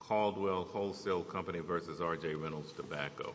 Caldwell Wholesale Company versus RJ Reynolds Tobacco.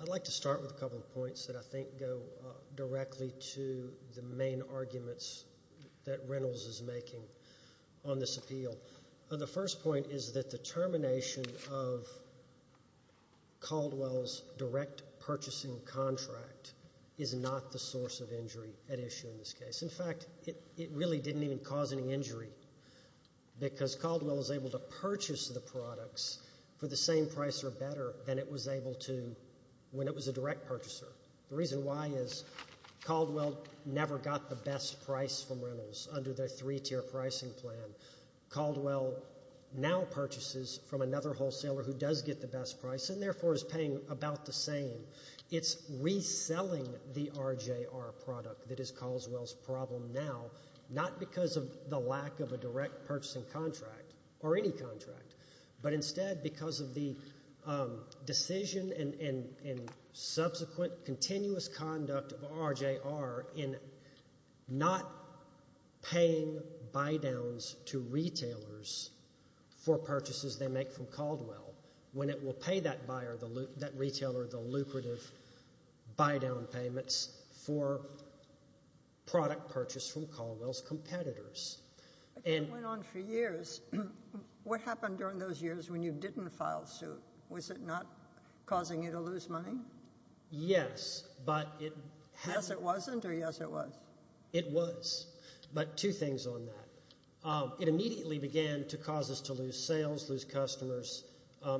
I'd like to start with a couple of points that I think go directly to the main arguments that Reynolds is making on this appeal. The first point is that the termination of Caldwell's direct purchasing contract is not the source of injury at issue in this case. In fact, it really didn't even cause any injury because Caldwell was able to purchase the products for the same price or better than it was able to when it was a direct purchaser. The reason why is Caldwell never got the best price from Reynolds under their three-tier pricing plan. Caldwell now purchases from another wholesaler who does get the best price and therefore is paying about the same. It's reselling the RJR product that is Caldwell's problem now, not because of the lack of a direct purchasing contract or any contract, but instead because of the decision and subsequent continuous conduct of RJR in not paying buy-downs to retailers for purchases they make from Caldwell when it will pay that retailer the lucrative buy-down payments for product purchase from Caldwell's competitors. It went on for years. What happened during those years when you didn't file suit? Was it not causing you to lose money? Yes. Yes it wasn't or yes it was? It was, but two things on that. It immediately began to cause us to lose sales, lose customers,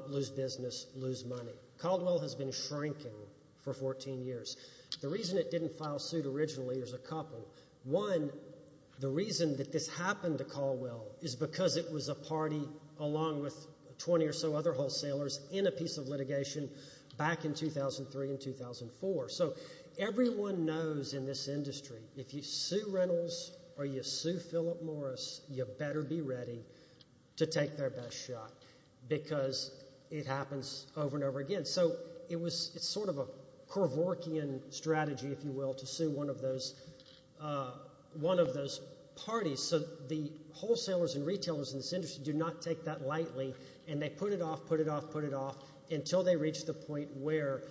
lose business, lose money. Caldwell has been shrinking for 14 years. The reason it didn't file suit originally is a couple. One, the reason that this happened to Caldwell is because it was a party along with 20 or so other wholesalers in a piece of litigation back in 2003 and 2004. Everyone knows in this industry, if you sue Reynolds or you sue Philip Morris, you better be ready to take their best shot because it happens over and over again. It's sort of a Corvorkian strategy, if you will, to sue one of those parties. The wholesalers and retailers in this industry do not take that lightly and they put it off, put it off, put it off until they reach the point where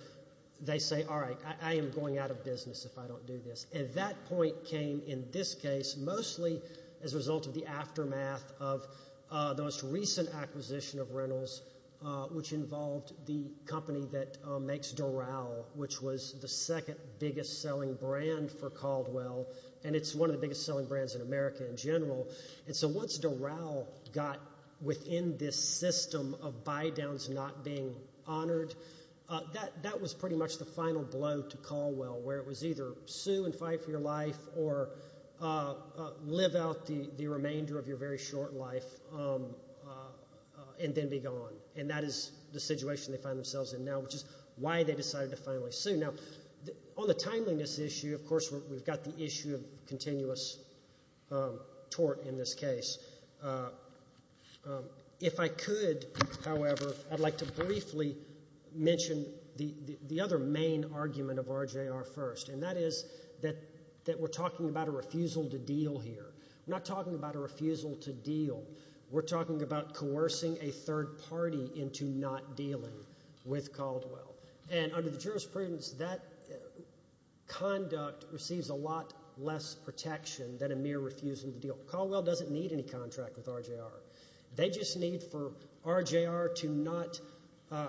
they say, all right, I am going out of business if I don't do this. That point came in this case mostly as a result of the aftermath of the most recent acquisition of Reynolds, which involved the company that makes Doral, which was the second biggest selling brand for Caldwell. It's one of the biggest selling brands in America in general. Once Doral got within this system of buy-downs not being honored, that was pretty much the final blow to Caldwell, where it was either sue and fight for your life or live out the remainder of your very short life and then be gone. That is the situation they find themselves in now, which is why they decided to finally sue. On the timeliness issue, of course, we've got the issue of continuous tort in this case. If I could, however, I'd like to briefly mention the other main argument of RJR First, and that is that we're talking about a refusal to deal here. We're not talking about a refusal to deal. We're talking about coercing a third party into not dealing with Caldwell. Under the jurisprudence, that conduct receives a lot less protection than a mere refusal to deal. Caldwell doesn't need any contract with RJR. They just need for RJR to not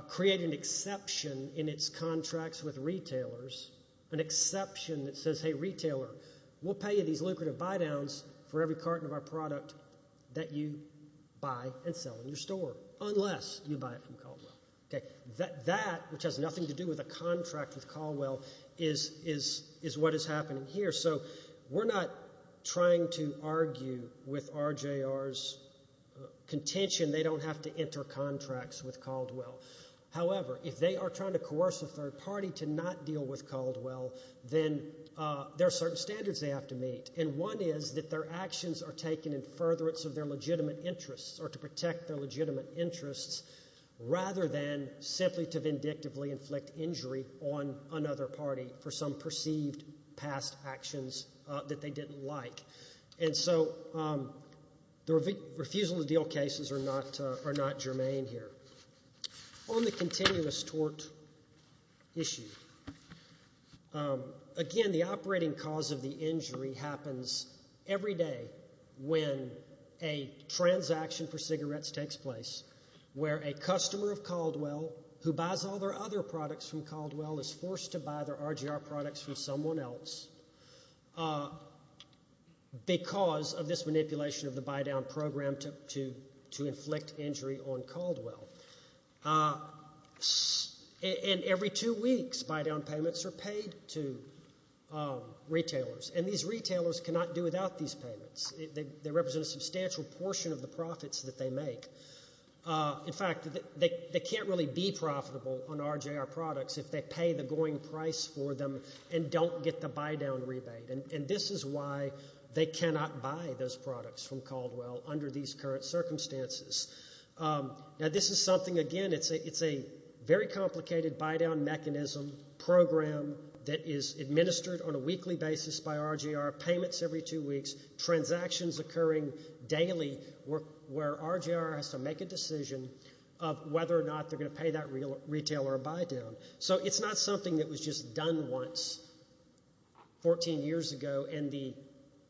create an exception in its contracts with retailers, an exception that says, hey, retailer, we'll pay you these lucrative buy-downs for every carton of our product that you buy and sell in your store, unless you buy it from Caldwell. That, which has nothing to do with a contract with Caldwell, is what is happening here. We're not trying to argue with RJR's contention they don't have to enter contracts with Caldwell. However, if they are trying to coerce a third party to not deal with Caldwell, then there are certain standards they have to meet. One is that their actions are taken in furtherance of their legitimate interests or to protect their legitimate interests, rather than simply to vindictively inflict injury on another party for some perceived past actions that they didn't like. And so the refusal to deal cases are not germane here. On the continuous tort issue, again, the operating cause of the injury happens every day when a transaction for cigarettes takes place, where a customer of Caldwell who buys all their other products from Caldwell is forced to buy their RJR products from someone else because of this manipulation of the buy-down program to inflict injury on Caldwell. And every two weeks, buy-down payments are paid to retailers. And these retailers cannot do without these payments. They represent a substantial portion of the profits that they make. In fact, they can't really be profitable on RJR products if they pay the going price for them and don't get the buy-down rebate. And this is why they cannot buy those products from Caldwell under these current circumstances. Now, this is something, again, it's a very complicated buy-down mechanism program that is administered on a weekly basis by RJR, payments every two weeks, transactions occurring daily where RJR has to make a decision of whether or not they're going to pay that retailer a buy-down. So it's not something that was just done once 14 years ago and the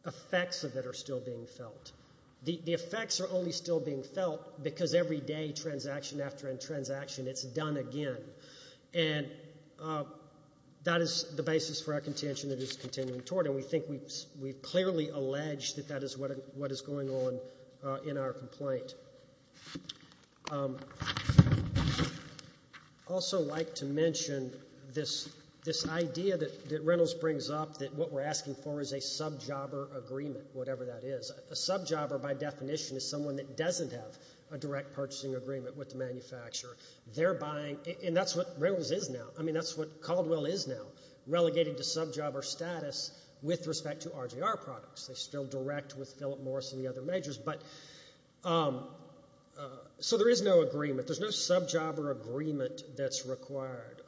effects of it are still being felt. The effects are only still being felt because every day, transaction after transaction, it's done again. And that is the basis for our contention that is continuing toward. And we think we've clearly alleged that that is what is going on in our complaint. Also like to mention this idea that Reynolds brings up that what we're asking for is a sub-jobber agreement, whatever that is. A sub-jobber, by definition, is someone that doesn't have a direct purchasing agreement with the manufacturer. They're buying, and that's what Reynolds is now. I mean, that's what Caldwell is now, relegated to sub-jobber status with respect to RJR products. They still direct with Philip Morris and the other majors. But so there is no agreement. There's no sub-jobber agreement that's required.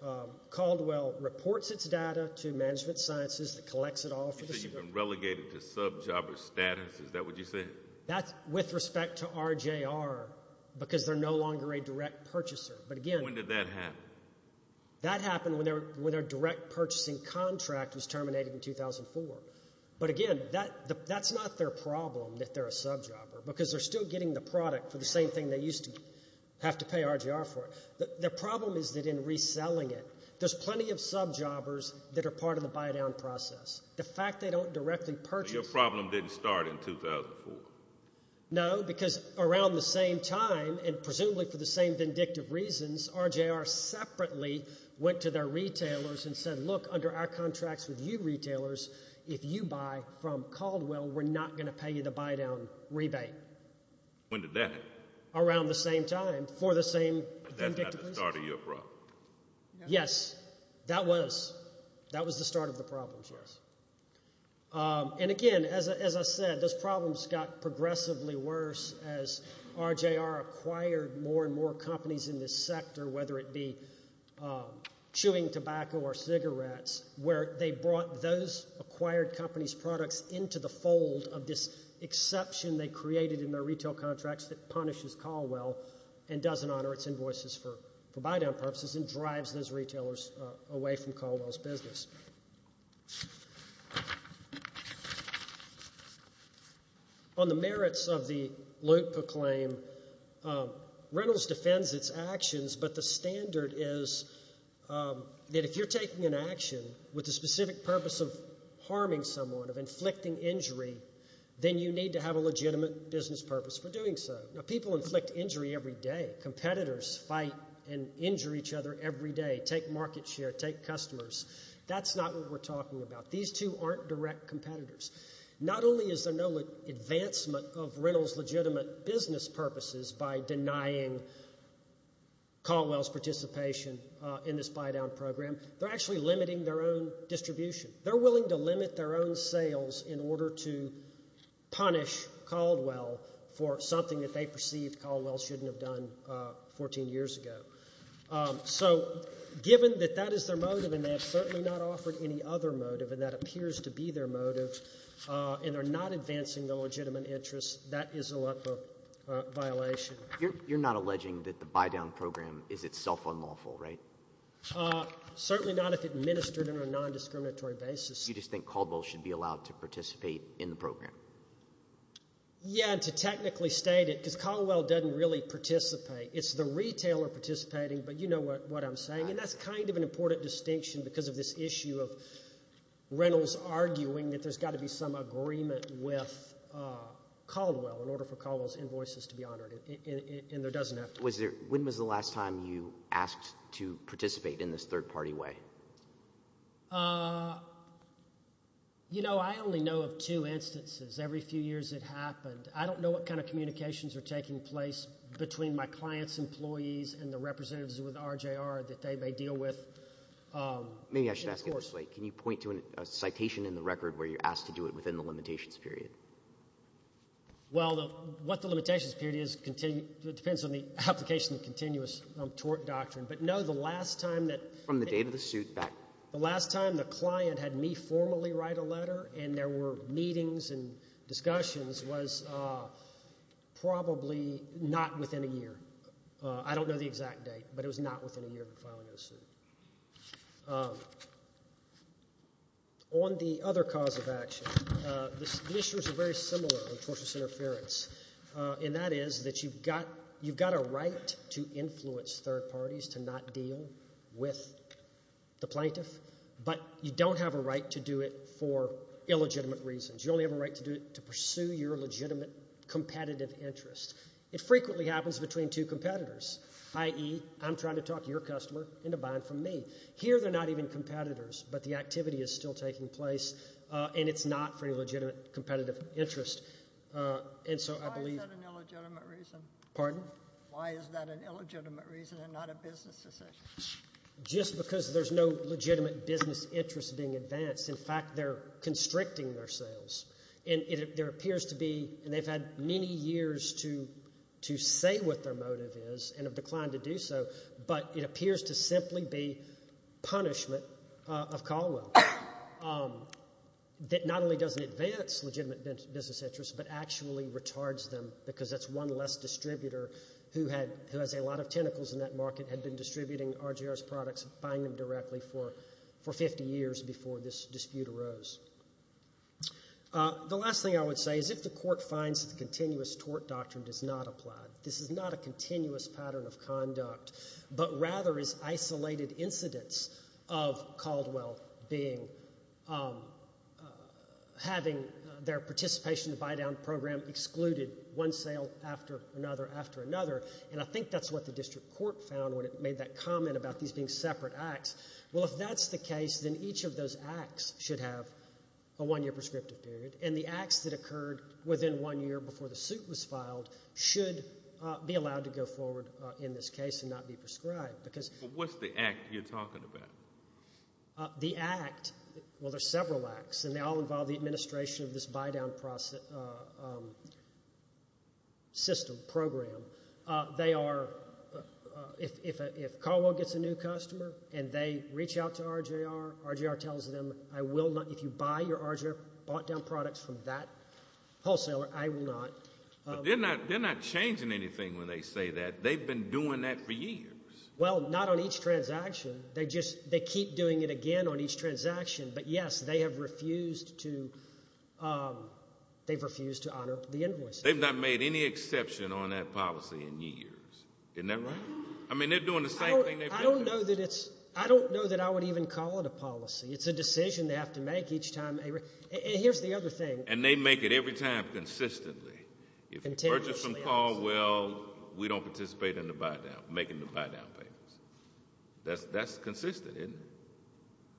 Caldwell reports its data to Management Sciences that collects it all. You said you've been relegated to sub-jobber status. Is that what you're saying? That's with respect to RJR because they're no longer a direct purchaser. But again— When did that happen? That happened when their direct purchasing contract was terminated in 2004. But again, that's not their problem that they're a sub-jobber because they're still getting the product for the same thing they used to have to pay RJR for. The problem is that in reselling it, there's plenty of sub-jobbers that are part of the buy-down process. The fact they don't directly purchase— Your problem didn't start in 2004. No, because around the same time, and presumably for the same vindictive reasons, RJR separately went to their retailers and said, look, under our contracts with you retailers, if you buy from Caldwell, we're not going to pay you the buy-down rebate. When did that happen? Around the same time, for the same vindictive reasons. But that's not the start of your problem. Yes, that was. That was the start of the problems, yes. And again, as I said, those problems got progressively worse as RJR acquired more and more companies in this sector, whether it be chewing tobacco or cigarettes, where they brought those acquired companies' products into the fold of this exception they created in their retail contracts that punishes Caldwell and doesn't honor its invoices for buy-down purposes and drives those retailers away from Caldwell's business. On the merits of the Loepp Acclaim, Reynolds defends its actions, but the standard is that if you're taking an action with the specific purpose of harming someone, of inflicting injury, then you need to have a legitimate business purpose for doing so. Now, people inflict injury every day. Competitors fight and injure each other every day. Take market share, take customers. That's not what we're talking about. These two aren't direct competitors. Not only is there no advancement of Reynolds' legitimate business purposes by denying Caldwell's participation in this buy-down program, they're actually limiting their own distribution. They're willing to limit their own sales in order to punish Caldwell for something that they perceived Caldwell shouldn't have done 14 years ago. So given that that is their motive, and they have certainly not offered any other motive, and that appears to be their motive, and they're not advancing their legitimate interests, that is a Loepp violation. You're not alleging that the buy-down program is itself unlawful, right? Certainly not if administered on a non-discriminatory basis. You just think Caldwell should be allowed to participate in the program? Yeah, to technically state it, because Caldwell doesn't really participate. It's the retailer participating, but you know what I'm saying. And that's kind of an important distinction because of this issue of Reynolds arguing that there's got to be some agreement with Caldwell in order for Caldwell's invoices to be honored, and there doesn't have to be. When was the last time you asked to participate in this third-party way? You know, I only know of two instances. Every few years it happened. I don't know what kind of communications are taking place between my client's employees and the representatives with RJR that they may deal with. Maybe I should ask it this way. Can you point to a citation in the record where you're asked to do it within the limitations period? Well, what the limitations period is, it depends on the application of continuous tort doctrine, but no, the last time that... From the date of the suit back... The last time the client had me formally write a letter and there were meetings and discussions was probably not within a year. I don't know the exact date, but it was not within a year of filing a suit. On the other cause of action, the issues are very similar on tortious interference, and that is that you've got a right to influence third parties to not deal with the plaintiff, but you don't have a right to do it for illegitimate reasons. You only have a right to do it to pursue your legitimate competitive interest. It frequently happens between two competitors, i.e., I'm trying to talk your customer into buying from me. Here they're not even competitors, but the activity is still taking place and it's not for any legitimate competitive interest, and so I believe... Why is that an illegitimate reason? Pardon? Why is that an illegitimate reason and not a business decision? Just because there's no legitimate business interest being advanced. In fact, they're constricting their sales, and there appears to be, and they've had many years to say what their motive is and have declined to do so, but it appears to simply be punishment of Caldwell that not only doesn't advance legitimate business interest, but actually retards them because that's one less distributor who has a lot of tentacles in that market, had been distributing RJR's products and buying them directly for 50 years before this dispute arose. The last thing I would say is if the court finds that the continuous tort doctrine does not apply, this is not a continuous pattern of conduct, but rather is isolated incidents of Caldwell having their participation in the buy-down program excluded one sale after another after another, and I think that's what the district court found when it made that comment about these being separate acts. Well, if that's the case, then each of those acts should have a one-year prescriptive period, and the acts that occurred within one year before the suit was filed should be allowed to go forward in this case and not be prescribed. But what's the act you're talking about? The act, well, there's several acts, and they all involve the administration of this buy-down process, system, program. They are, if Caldwell gets a new customer and they reach out to RJR, RJR tells them, I will not, if you buy your RJR bought-down products from that wholesaler, I will not. They're not changing anything when they say that. They've been doing that for years. Well, not on each transaction. They just, they keep doing it again on each transaction. But yes, they have refused to, they've refused to honor the invoices. They've not made any exception on that policy in years. Isn't that right? I mean, they're doing the same thing. I don't know that it's, I don't know that I would even call it a policy. It's a decision they have to make each time. Here's the other thing. And they make it every time consistently. If you purchase from Caldwell, we don't participate in the buy-down, making the buy-down payments. That's consistent, isn't it?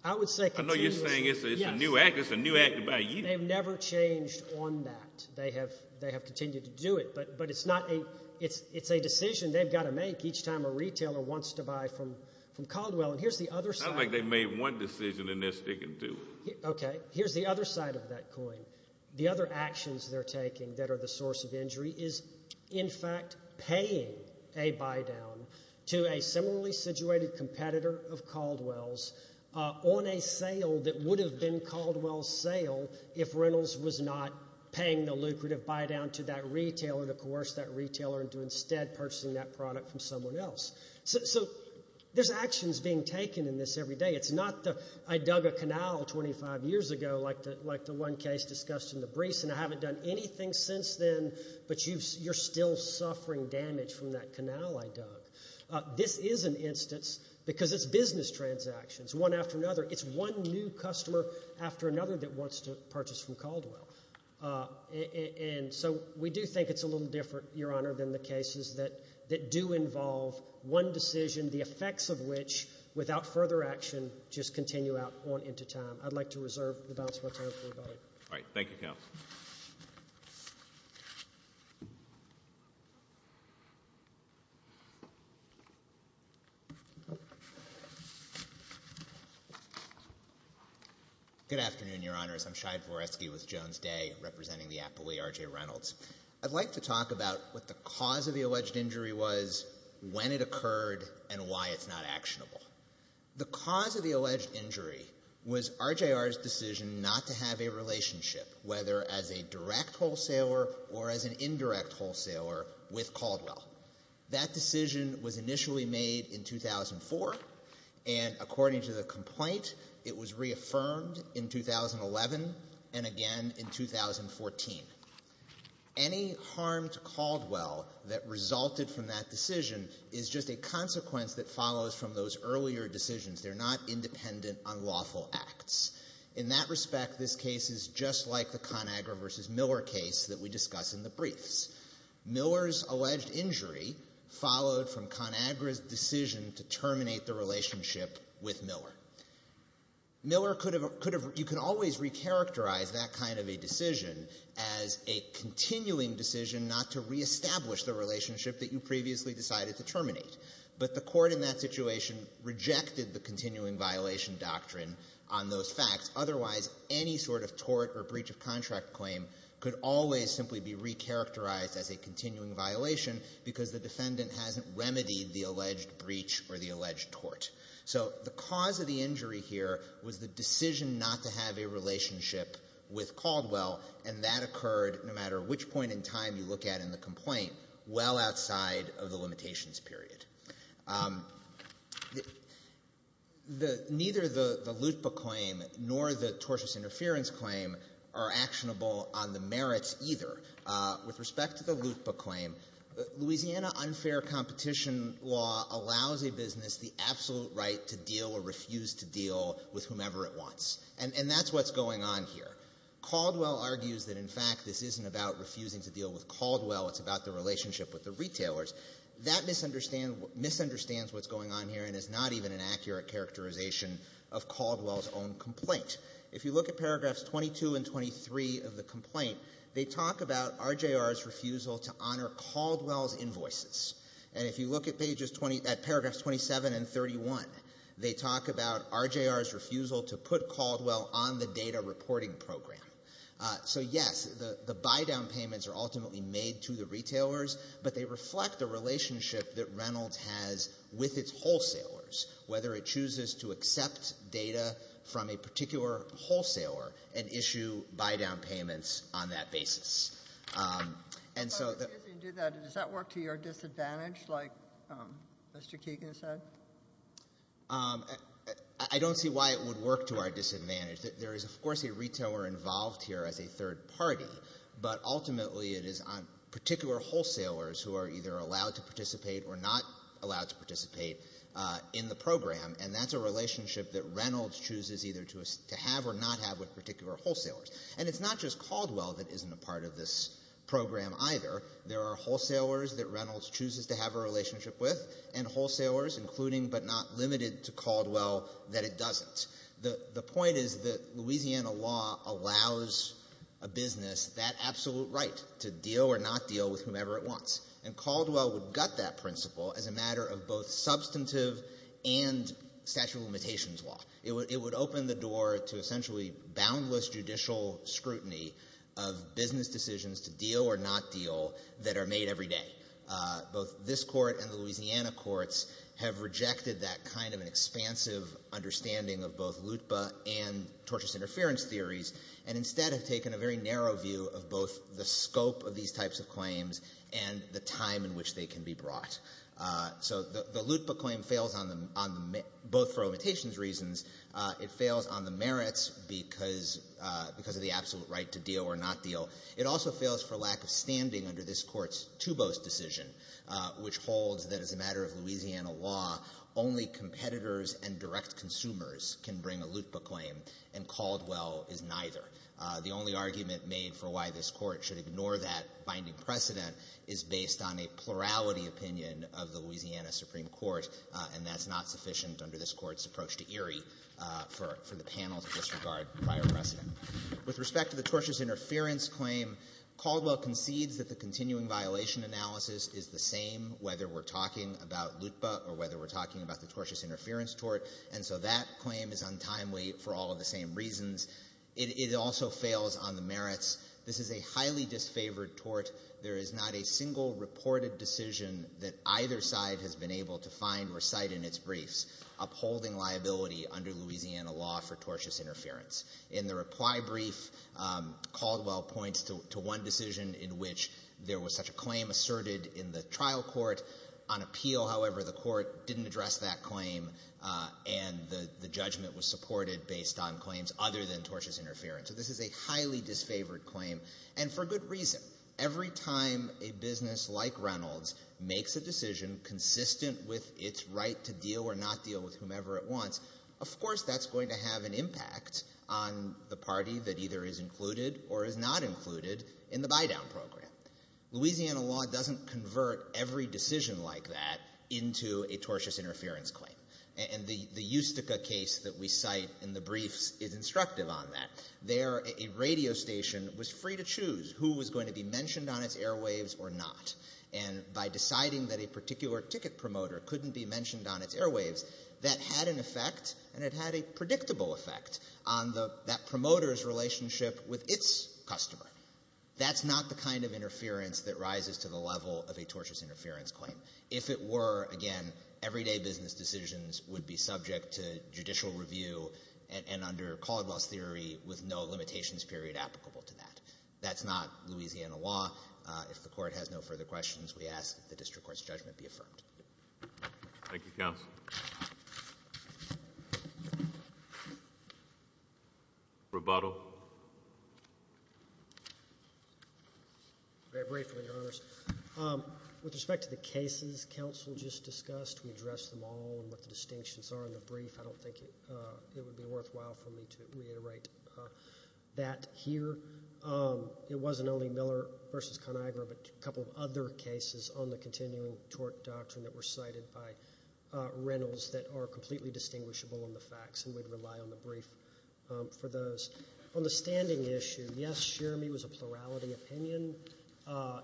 I would say continuously. I know you're saying it's a new act. It's a new act to buy you. They've never changed on that. They have, they have continued to do it. But, but it's not a, it's, it's a decision they've got to make each time a retailer wants to buy from, from Caldwell. And here's the other side. It's not like they made one decision and they're sticking to it. Okay, here's the other side of that coin. The other actions they're taking that are the source of injury is, in fact, paying a to a similarly situated competitor of Caldwell's on a sale that would have been Caldwell's sale if Reynolds was not paying the lucrative buy-down to that retailer, to coerce that retailer into instead purchasing that product from someone else. So, so there's actions being taken in this every day. It's not the, I dug a canal 25 years ago, like the, like the one case discussed in the briefs, and I haven't done anything since then. But you've, you're still suffering damage from that canal I dug. This is an instance, because it's business transactions, one after another, it's one new customer after another that wants to purchase from Caldwell. And so we do think it's a little different, Your Honor, than the cases that, that do involve one decision, the effects of which, without further action, just continue out on into time. I'd like to reserve the balance of my time for you both. All right. Thank you, Counsel. Good afternoon, Your Honors. I'm Shai Voresky with Jones Day, representing the Appleby R.J. Reynolds. I'd like to talk about what the cause of the alleged injury was, when it occurred, and why it's not actionable. The cause of the alleged injury was RJR's decision not to have a relationship, whether as a direct wholesaler or as an indirect wholesaler, with Caldwell. That decision was initially made in 2004, and according to the complaint, it was reaffirmed in 2011, and again in 2014. Any harm to Caldwell that resulted from that decision is just a consequence that follows from those earlier decisions. They're not independent, unlawful acts. In that respect, this case is just like the ConAgra versus Miller case that we discuss in the briefs. Miller's alleged injury followed from ConAgra's decision to terminate the relationship with Miller. Miller could have, could have, you can always recharacterize that kind of a decision as a continuing decision not to reestablish the relationship that you previously decided to terminate. But the court in that situation rejected the continuing violation doctrine on those facts. Otherwise, any sort of tort or breach of contract claim could always simply be recharacterized as a continuing violation because the defendant hasn't remedied the alleged breach or the alleged tort. So the cause of the injury here was the decision not to have a relationship with Caldwell, and that occurred, no matter which point in time you look at in the complaint, well outside of the limitations period. The, neither the LUTPA claim nor the tortious interference claim are actionable on the merits either. With respect to the LUTPA claim, Louisiana unfair competition law allows a business the absolute right to deal or refuse to deal with whomever it wants. And that's what's going on here. Caldwell argues that, in fact, this isn't about refusing to deal with Caldwell. It's about the relationship with the retailers. That misunderstands what's going on here and is not even an accurate characterization of Caldwell's own complaint. If you look at paragraphs 22 and 23 of the complaint, they talk about RJR's refusal to honor Caldwell's invoices. And if you look at pages 20, at paragraphs 27 and 31, they talk about RJR's refusal to put Caldwell on the data reporting program. So yes, the buy-down payments are ultimately made to the retailers, but they reflect the relationship that Reynolds has with its wholesalers. Whether it chooses to accept data from a particular wholesaler and issue buy-down payments on that basis. And so... But if you do that, does that work to your disadvantage like Mr. Keegan said? I don't see why it would work to our disadvantage. There is, of course, a retailer involved here as a third party. But ultimately, it is particular wholesalers who are either allowed to participate or not allowed to participate in the program. And that's a relationship that Reynolds chooses either to have or not have with particular wholesalers. And it's not just Caldwell that isn't a part of this program either. There are wholesalers that Reynolds chooses to have a relationship with and wholesalers, including but not limited to Caldwell, that it doesn't. The point is that Louisiana law allows a business that absolute right to deal or not deal with whomever it wants. And Caldwell would gut that principle as a matter of both substantive and statute of limitations law. It would open the door to essentially boundless judicial scrutiny of business decisions to deal or not deal that are made every day. Both this court and the Louisiana courts have rejected that kind of an expansive understanding of both LUTBA and tortious interference theories and instead have taken a very narrow view of both the scope of these types of claims and the time in which they can be brought. So the LUTBA claim fails on both for limitations reasons. It fails on the merits because of the absolute right to deal or not deal. It also fails for lack of standing under this court's Tubos decision, which holds that as a matter of Louisiana law, only competitors and direct consumers can bring a LUTBA claim and Caldwell is neither. The only argument made for why this court should ignore that binding precedent is based on a plurality opinion of the Louisiana Supreme Court, and that's not sufficient under this court's approach to Erie for the panel to disregard prior precedent. With respect to the tortious interference claim, Caldwell concedes that the continuing violation analysis is the same whether we're talking about LUTBA or whether we're talking about the tortious interference tort, and so that claim is untimely for all of the same reasons. It also fails on the merits. This is a highly disfavored tort. There is not a single reported decision that either side has been able to find or cite in its briefs upholding liability under Louisiana law for tortious interference. In the reply brief, Caldwell points to one decision in which there was such a claim asserted in the trial court. On appeal, however, the court didn't address that claim and the judgment was supported based on claims other than tortious interference. So this is a highly disfavored claim, and for good reason. Every time a business like Reynolds makes a decision consistent with its right to deal or not deal with whomever it wants, of course that's going to have an impact on the party that either is included or is not included in the buy-down program. Louisiana law doesn't convert every decision like that into a tortious interference claim, and the Eustica case that we cite in the briefs is instructive on that. There, a radio station was free to choose who was going to be mentioned on its airwaves or not, and by deciding that a particular ticket promoter couldn't be mentioned on its airwaves, that had an effect, and it had a predictable effect, on that promoter's relationship with its customer. That's not the kind of interference that rises to the level of a tortious interference claim. If it were, again, everyday business decisions would be subject to judicial review and under Caldwell's theory with no limitations period applicable to that. That's not Louisiana law. If the Court has no further questions, we ask that the district court's judgment be affirmed. Thank you, Counsel. Rebuttal. Very briefly, Your Honors. With respect to the cases Counsel just discussed, we addressed them all and what the distinctions are in the brief. I don't think it would be worthwhile for me to reiterate that here. It wasn't only Miller v. Conagra, but a couple of other cases on the continuing tort doctrine that were cited by Reynolds that are completely distinguishable in the facts, and we'd rely on the brief for those. On the standing issue, yes, Sheremy was a plurality opinion.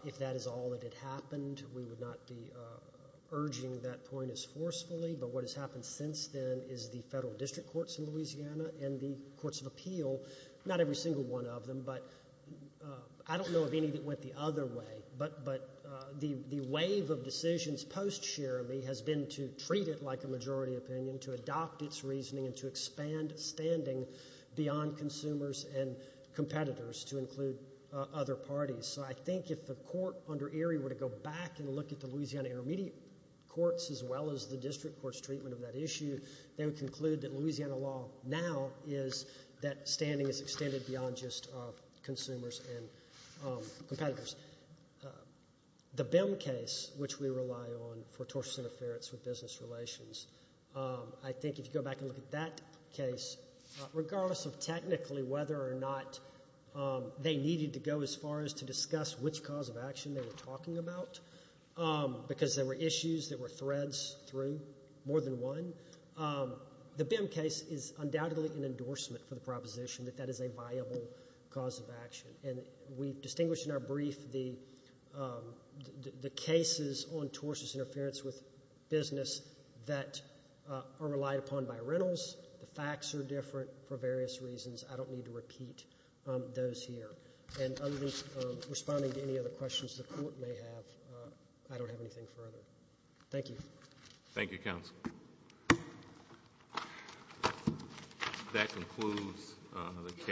If that is all that had happened, we would not be urging that point as forcefully, but what has happened since then is the federal district courts in Louisiana and the courts of appeal, not every single one of them, but I don't know of any that went the other way, but the wave of decisions post-Sheremy has been to treat it like a majority opinion, to adopt its reasoning, and to expand standing beyond consumers and competitors to include other parties. So I think if the Court under Erie were to go back and look at the Louisiana intermediate courts as well as the district court's treatment of that issue, they would conclude that Louisiana law now is that standing is extended beyond just consumers and competitors. The BIM case, which we rely on for tortious interference with business relations, I think if you go back and look at that case, regardless of technically whether or not they needed to go as far as to discuss which cause of action they were talking about, because there were issues, there were threads through more than one, the BIM case is undoubtedly an endorsement for the proposition that that is a viable cause of action, and we've distinguished in our brief the cases on tortious interference with business that are relied upon by rentals. The facts are different for various reasons. I don't need to repeat those here. And responding to any other questions the Court may have, I don't have anything further. Thank you. Thank you, counsel. That concludes the case.